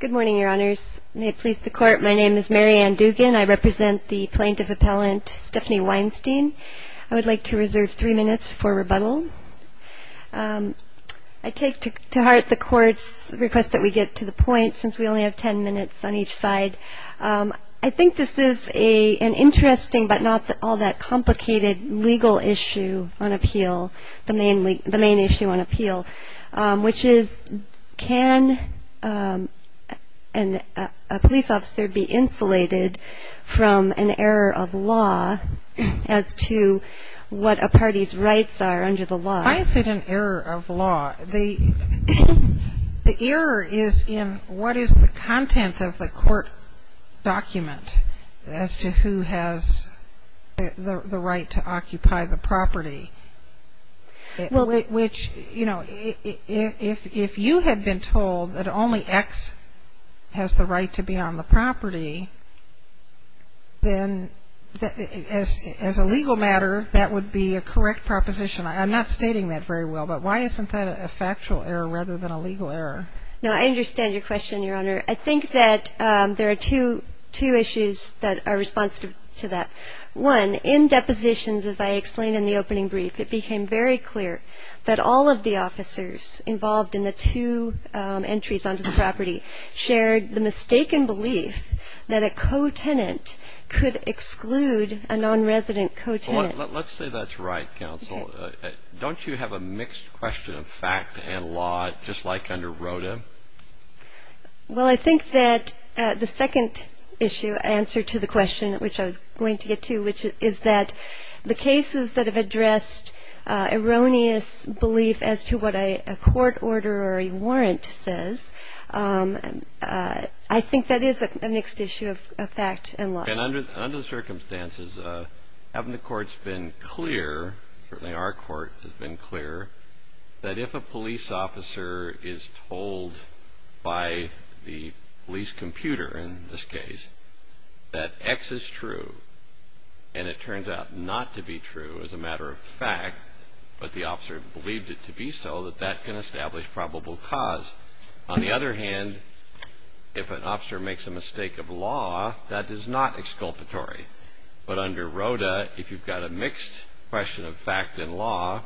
Good morning, Your Honors. May it please the Court, my name is Mary Ann Dugan. I represent the plaintiff-appellant Stephanie Weinstein. I would like to reserve three minutes for rebuttal. I take to heart the Court's request that we get to the point since we only have ten minutes on each side. I think this is an interesting but not all that complicated legal issue on appeal, the main issue on appeal, which is can a police officer be insulated from an error of law as to what a party's rights are under the law? Why is it an error of law? The error is in what is the content of the court document as to who has the right to occupy the property, which, you know, if you had been told that only X has the right to be on the property, then as a legal matter, that would be a correct proposition. I'm not stating that very well, but why isn't that a factual error rather than a legal error? No, I understand your question, Your Honor. I think that there are two issues that are responsive to that. One, in depositions, as I explained in the opening brief, it became very clear that all of the officers involved in the two entries onto the property shared the mistaken belief that a co-tenant could exclude a non-resident co-tenant. Let's say that's right, counsel. Don't you have a mixed question of fact and law just like under ROTA? Well, I think that the second issue, answer to the question which I was going to get to, which is that the cases that have addressed erroneous belief as to what a court order or a warrant says, I think that is a mixed issue of fact and law. And under the circumstances, haven't the courts been clear, certainly our court has been clear, that if a police officer is told by the police computer, in this case, that X is true and it turns out not to be true as a matter of fact, but the officer believed it to be so, that that can establish probable cause. On the other hand, if an officer makes a mistake of law, that is not exculpatory. But under ROTA, if you've got a mixed question of fact and law,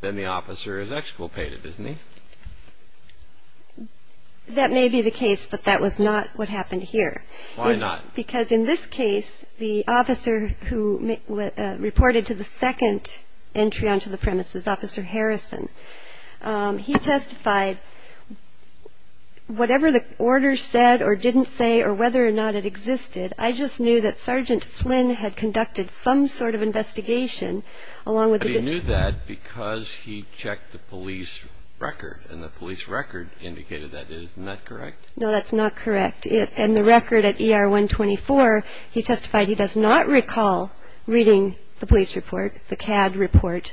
then the officer is exculpated, isn't he? That may be the case, but that was not what happened here. Why not? Because in this case, the officer who reported to the second entry onto the premises, Officer Harrison, he testified, whatever the order said or didn't say or whether or not it existed, I just knew that Sergeant Flynn had conducted some sort of investigation along with the- But he knew that because he checked the police record, and the police record indicated that. Isn't that correct? No, that's not correct. And the record at ER 124, he testified he does not recall reading the police report, the CAD report,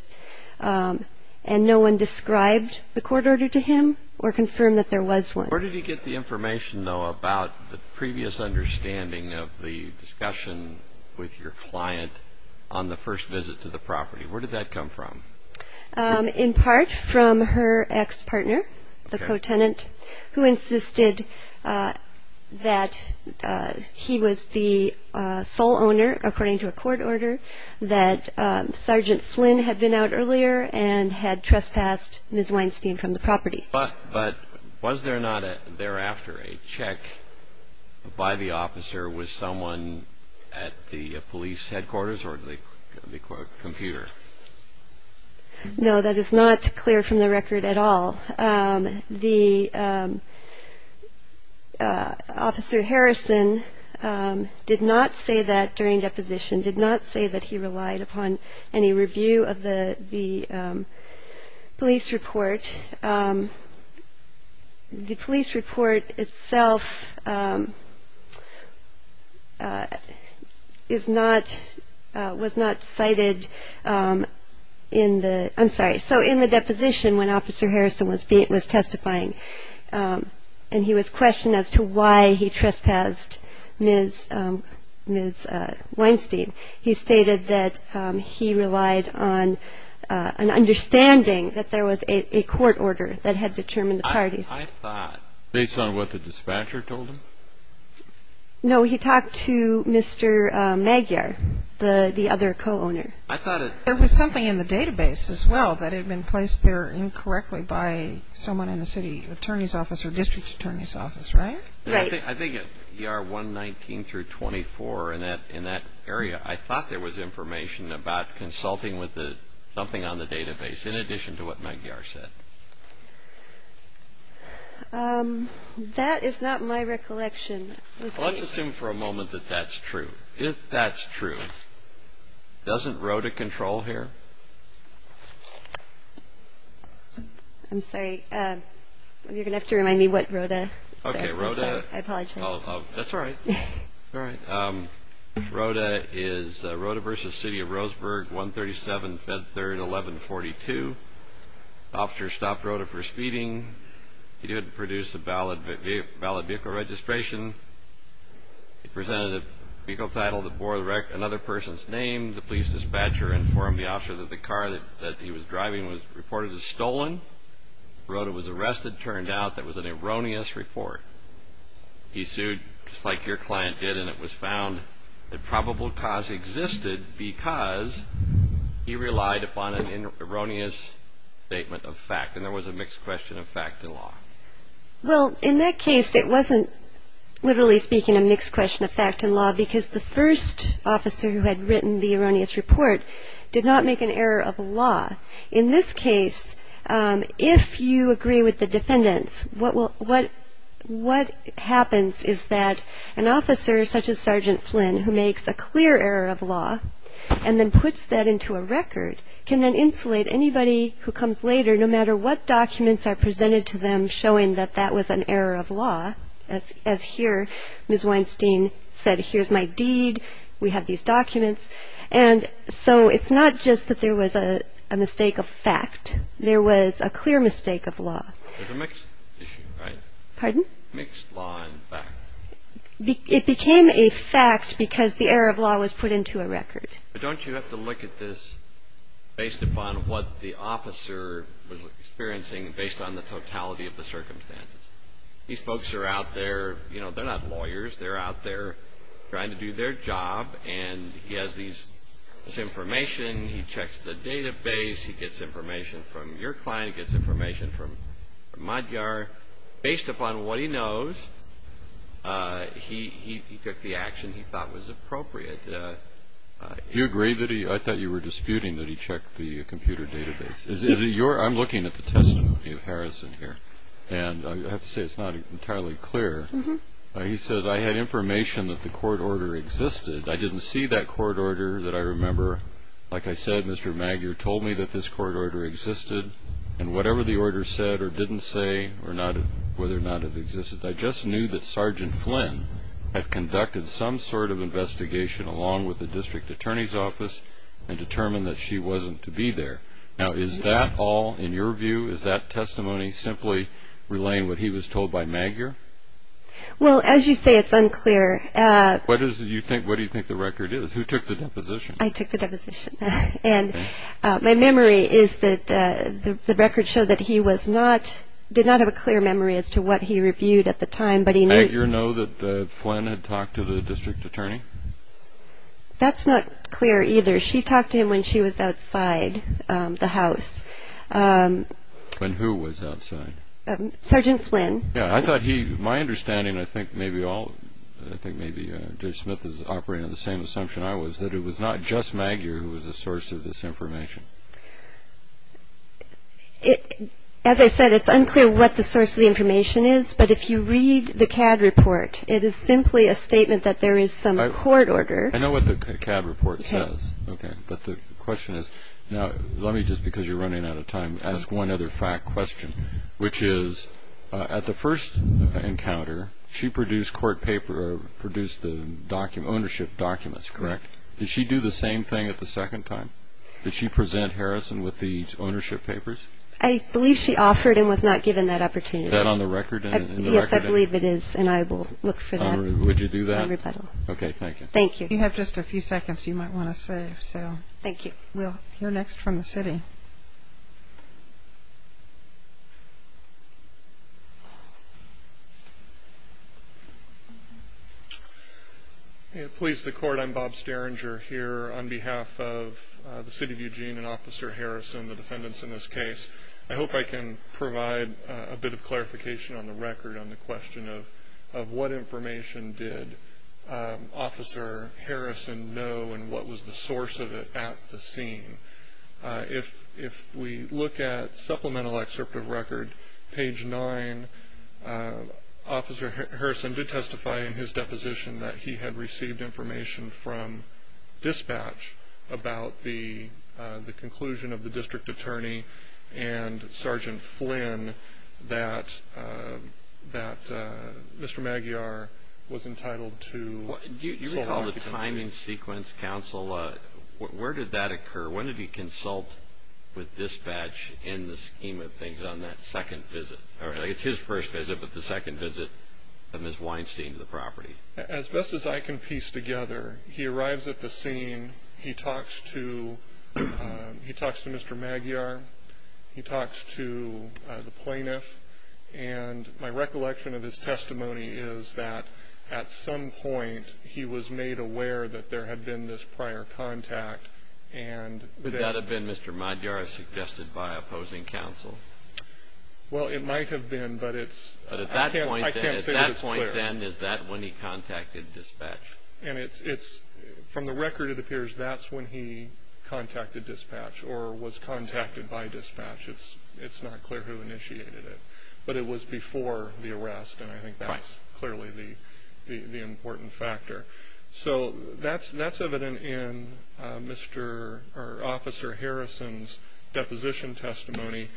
and no one described the court order to him or confirmed that there was one. Where did he get the information, though, about the previous understanding of the discussion with your client on the first visit to the property? Where did that come from? In part from her ex-partner, the co-tenant, who insisted that he was the sole owner, according to a court order, that Sergeant Flynn had been out earlier and had trespassed Ms. Weinstein from the property. But was there not thereafter a check by the officer with someone at the police headquarters or the computer? No, that is not clear from the record at all. The officer, Harrison, did not say that during deposition, did not say that he relied upon any review of the police report. The police report itself is not-was not cited in the-I'm sorry. So in the deposition, when Officer Harrison was testifying and he was questioned as to why he trespassed Ms. Weinstein, he stated that he relied on an understanding that there was a court order that had determined the parties. I thought, based on what the dispatcher told him? No, he talked to Mr. Magyar, the other co-owner. I thought it- There was something in the database as well that had been placed there incorrectly by someone in the city attorney's office or district attorney's office, right? Right. I think at ER 119 through 24 in that area, I thought there was information about consulting with something on the database, in addition to what Magyar said. That is not my recollection. Let's assume for a moment that that's true. If that's true, doesn't RODA control here? I'm sorry. You're going to have to remind me what RODA is. Okay, RODA. I apologize. That's all right. All right. RODA is RODA v. City of Roseburg, 137, Fed 3rd, 1142. The officer stopped RODA for speeding. He didn't produce a valid vehicle registration. He presented a vehicle title that bore another person's name. The police dispatcher informed the officer that the car that he was driving was reported as stolen. RODA was arrested. It turned out that it was an erroneous report. He sued, just like your client did, and it was found that probable cause existed because he relied upon an erroneous statement of fact, and there was a mixed question of fact in law. Well, in that case, it wasn't, literally speaking, a mixed question of fact in law because the first officer who had written the erroneous report did not make an error of law. In this case, if you agree with the defendants, what happens is that an officer such as Sergeant Flynn, who makes a clear error of law and then puts that into a record, can then insulate anybody who comes later, no matter what documents are presented to them showing that that was an error of law. As here, Ms. Weinstein said, here's my deed. We have these documents. And so it's not just that there was a mistake of fact. There was a clear mistake of law. There's a mixed issue, right? Pardon? Mixed law and fact. It became a fact because the error of law was put into a record. But don't you have to look at this based upon what the officer was experiencing, based on the totality of the circumstances. These folks are out there. You know, they're not lawyers. They're out there trying to do their job, and he has this information. He checks the database. He gets information from your client. He gets information from Madyar. Based upon what he knows, he took the action he thought was appropriate. You agree that he – I thought you were disputing that he checked the computer database. I'm looking at the testimony of Harrison here, and I have to say it's not entirely clear. He says, I had information that the court order existed. I didn't see that court order that I remember. Like I said, Mr. Madyar told me that this court order existed, and whatever the order said or didn't say or whether or not it existed, I just knew that Sergeant Flynn had conducted some sort of investigation along with the district attorney's office and determined that she wasn't to be there. Now, is that all in your view? Is that testimony simply relaying what he was told by Madyar? Well, as you say, it's unclear. What do you think the record is? Who took the deposition? I took the deposition. My memory is that the record showed that he did not have a clear memory as to what he reviewed at the time, but he knew. Did Madyar know that Flynn had talked to the district attorney? That's not clear either. She talked to him when she was outside the house. When who was outside? Sergeant Flynn. Yeah, I thought he – my understanding, I think maybe all – I think maybe Judge Smith is operating on the same assumption I was, that it was not just Madyar who was the source of this information. As I said, it's unclear what the source of the information is, but if you read the CAD report, it is simply a statement that there is some court order. I know what the CAD report says. Okay. But the question is – now, let me just, because you're running out of time, ask one other fact question, which is at the first encounter, she produced the ownership documents, correct? Did she do the same thing at the second time? Did she present Harrison with the ownership papers? I believe she offered and was not given that opportunity. Is that on the record? Yes, I believe it is, and I will look for that. Would you do that? On rebuttal. Okay, thank you. Thank you. You have just a few seconds you might want to save. Thank you. We'll hear next from the city. Please, the court. I'm Bob Sterringer here on behalf of the city of Eugene and Officer Harrison, the defendants in this case. I hope I can provide a bit of clarification on the record on the question of what information did Officer Harrison know and what was the source of it at the scene. If we look at supplemental excerpt of record, page nine, Officer Harrison did testify in his deposition that he had received information from dispatch about the conclusion of the district attorney and Sergeant Flynn that Mr. Maguiar was entitled to sole competency. You recall the timing sequence, counsel. Where did that occur? When did he consult with dispatch in the scheme of things on that second visit? It's his first visit, but the second visit of Ms. Weinstein to the property. As best as I can piece together, he arrives at the scene. He talks to Mr. Maguiar. He talks to the plaintiff. And my recollection of his testimony is that at some point he was made aware that there had been this prior contact. Would that have been Mr. Maguiar suggested by opposing counsel? Well, it might have been, but I can't say that it's clear. At that point, then, is that when he contacted dispatch? From the record, it appears that's when he contacted dispatch or was contacted by dispatch. It's not clear who initiated it, but it was before the arrest, and I think that's clearly the important factor. So that's evident in Officer Harrison's deposition testimony.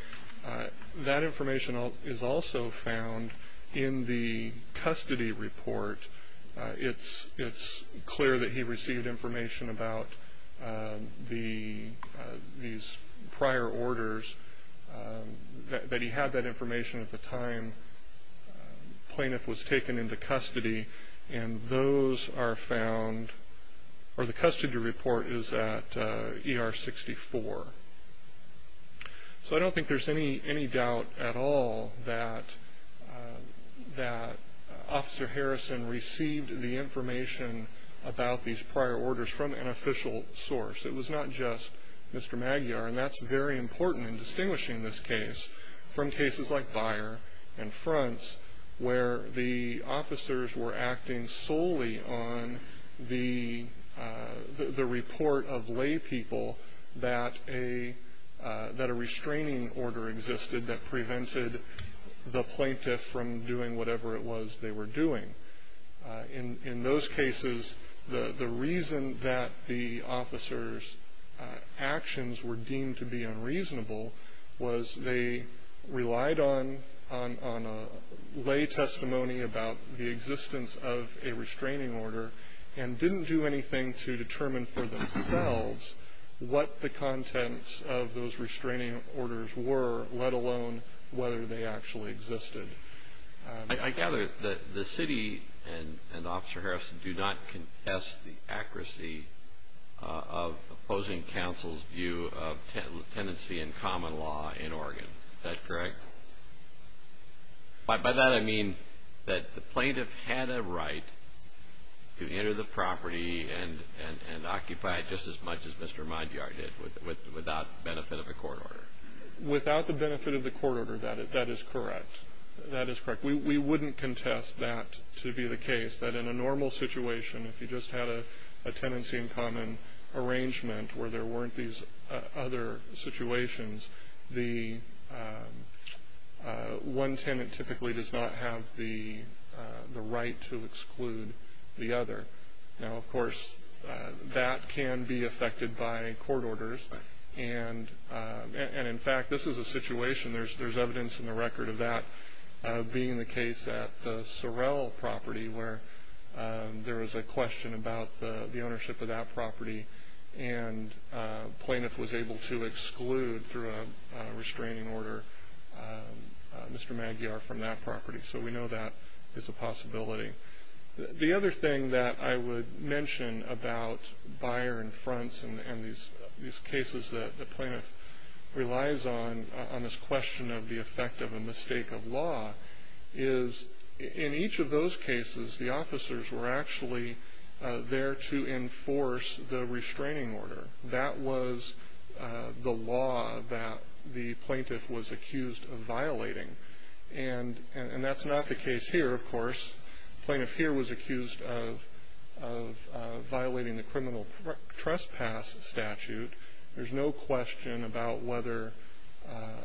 That information is also found in the custody report. It's clear that he received information about these prior orders, that he had that information at the time the plaintiff was taken into custody, and those are found or the custody report is at ER 64. So I don't think there's any doubt at all that Officer Harrison received the information about these prior orders from an official source. It was not just Mr. Maguiar, and that's very important in distinguishing this case from cases like Beyer and Fronts, where the officers were acting solely on the report of lay people that a restraining order existed that prevented the plaintiff from doing whatever it was they were doing. In those cases, the reason that the officers' actions were deemed to be unreasonable was they relied on lay testimony about the existence of a restraining order and didn't do anything to determine for themselves what the contents of those restraining orders were, let alone whether they actually existed. I gather that the city and Officer Harrison do not contest the accuracy of opposing counsel's view of tenancy and common law in Oregon. Is that correct? By that, I mean that the plaintiff had a right to enter the property and occupy it just as much as Mr. Maguiar did without the benefit of a court order. Without the benefit of the court order, that is correct. That is correct. We wouldn't contest that to be the case, that in a normal situation, if you just had a tenancy and common arrangement where there weren't these other situations, one tenant typically does not have the right to exclude the other. Now, of course, that can be affected by court orders, and in fact, this is a situation, there's evidence in the record of that being the case at the Sorrell property where there was a question about the ownership of that property and a plaintiff was able to exclude, through a restraining order, Mr. Maguiar from that property. So we know that is a possibility. The other thing that I would mention about buyer-in-fronts and these cases that the plaintiff relies on, on this question of the effect of a mistake of law, is in each of those cases, the officers were actually there to enforce the restraining order. That was the law that the plaintiff was accused of violating, and that's not the case here, of course. The plaintiff here was accused of violating the criminal trespass statute. There's no question about whether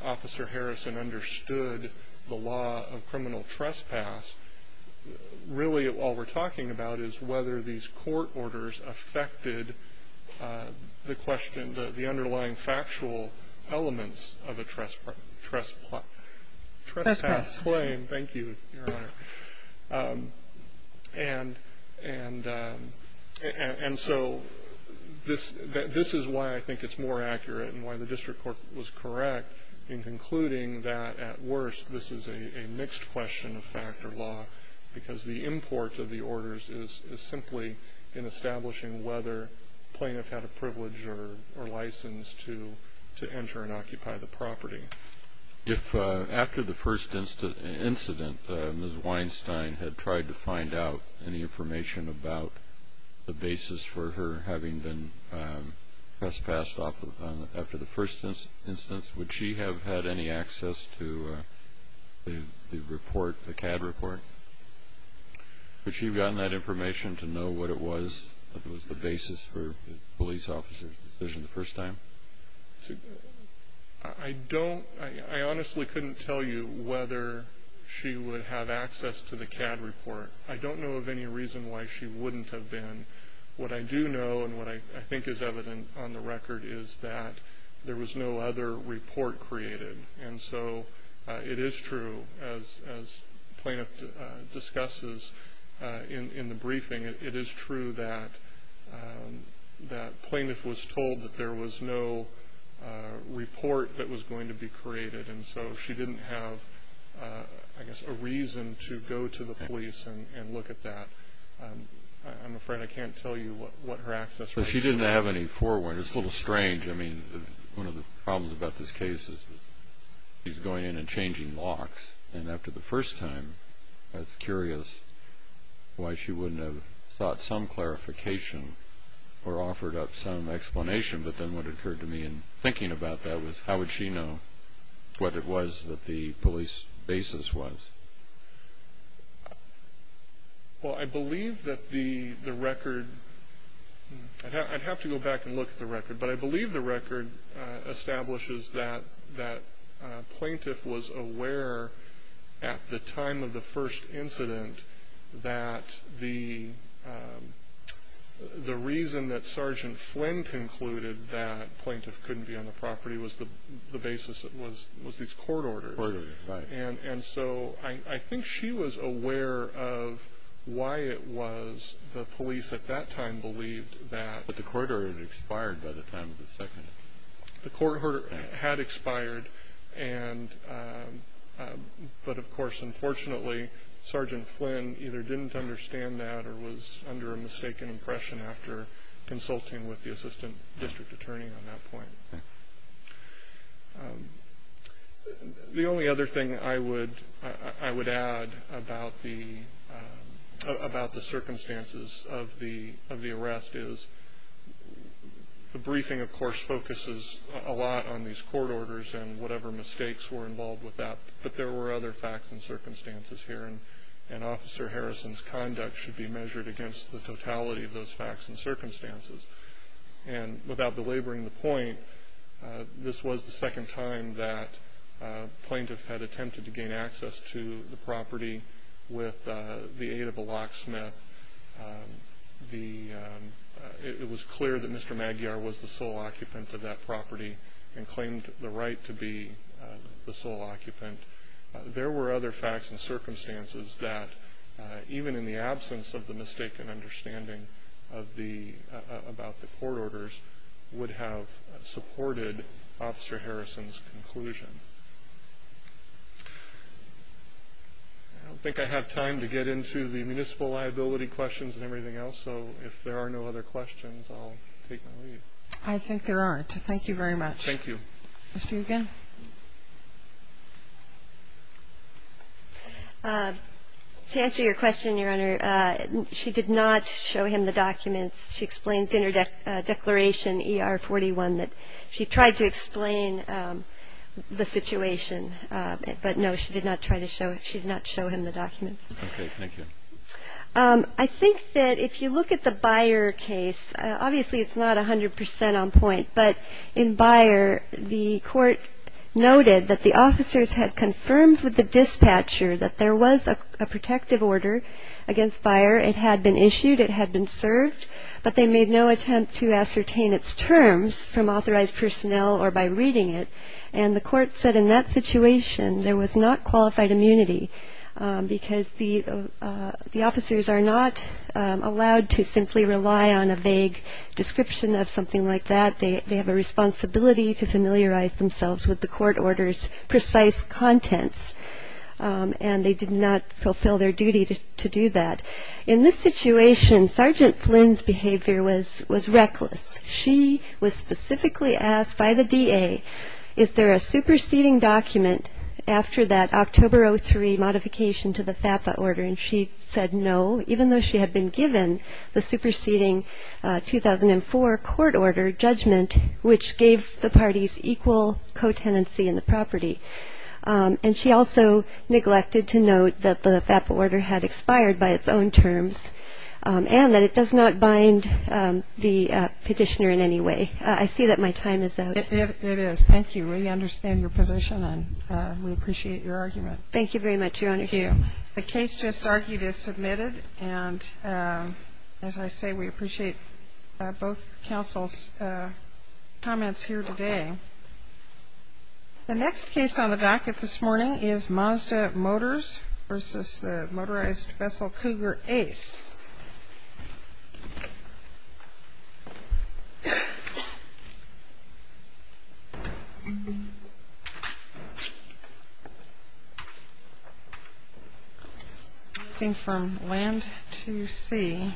Officer Harrison understood the law of criminal trespass. Really, all we're talking about is whether these court orders affected the underlying factual elements of a trespass claim. Thank you, Your Honor. And so this is why I think it's more accurate and why the district court was correct in concluding that, at worst, this is a mixed question of fact or law because the import of the orders is simply in establishing whether the plaintiff had a privilege or license to enter and occupy the property. If after the first incident, Ms. Weinstein had tried to find out any information about the basis for her having been trespassed after the first instance, would she have had any access to the CAD report? Would she have gotten that information to know what it was, what was the basis for the police officer's decision the first time? I honestly couldn't tell you whether she would have access to the CAD report. I don't know of any reason why she wouldn't have been. What I do know and what I think is evident on the record is that there was no other report created. And so it is true, as the plaintiff discusses in the briefing, it is true that the plaintiff was told that there was no report that was going to be created. And so she didn't have, I guess, a reason to go to the police and look at that. I'm afraid I can't tell you what her access was. So she didn't have any forewarning. It's a little strange. I mean, one of the problems about this case is that she's going in and changing locks. And after the first time, I was curious why she wouldn't have sought some clarification or offered up some explanation. But then what occurred to me in thinking about that was, how would she know what it was that the police basis was? Well, I believe that the record, I'd have to go back and look at the record, but I believe the record establishes that the plaintiff was aware at the time of the first incident that the reason that Sergeant Flynn concluded that the plaintiff couldn't be on the property was the basis of these court orders. And so I think she was aware of why it was the police at that time believed that. But the court order had expired by the time of the second. The court order had expired. But, of course, unfortunately, Sergeant Flynn either didn't understand that or was under a mistaken impression after consulting with the assistant district attorney on that point. The only other thing I would add about the circumstances of the arrest is the briefing, of course, focuses a lot on these court orders and whatever mistakes were involved with that. But there were other facts and circumstances here, and Officer Harrison's conduct should be measured against the totality of those facts and circumstances. And without belaboring the point, this was the second time that a plaintiff had attempted to gain access to the property with the aid of a locksmith. It was clear that Mr. Magyar was the sole occupant of that property and claimed the right to be the sole occupant. There were other facts and circumstances that, even in the absence of the mistaken understanding about the court orders, would have supported Officer Harrison's conclusion. I don't think I have time to get into the municipal liability questions and everything else, so if there are no other questions, I'll take my leave. I think there aren't. Thank you very much. Thank you. Ms. Dugan? To answer your question, Your Honor, she did not show him the documents. She explains in her declaration, ER-41, that she tried to explain the situation. But, no, she did not try to show him. She did not show him the documents. Okay. Thank you. I think that if you look at the Byer case, obviously it's not 100 percent on point, but in Byer the court noted that the officers had confirmed with the dispatcher that there was a protective order against Byer. It had been issued. It had been served. But they made no attempt to ascertain its terms from authorized personnel or by reading it. And the court said in that situation there was not qualified immunity because the officers are not allowed to simply rely on a vague description of something like that. They have a responsibility to familiarize themselves with the court order's precise contents. And they did not fulfill their duty to do that. In this situation, Sergeant Flynn's behavior was reckless. She was specifically asked by the DA, is there a superseding document after that October 03 modification to the FAPA order? And she said no, even though she had been given the superseding 2004 court order judgment, which gave the parties equal co-tenancy in the property. And she also neglected to note that the FAPA order had expired by its own terms and that it does not bind the petitioner in any way. I see that my time is out. It is. Thank you. We understand your position and we appreciate your argument. Thank you very much, Your Honor. Thank you. The case just argued is submitted. And as I say, we appreciate both counsel's comments here today. The next case on the docket this morning is Mazda Motors versus the motorized vessel Cougar Ace. I think from land to sea. Thank you.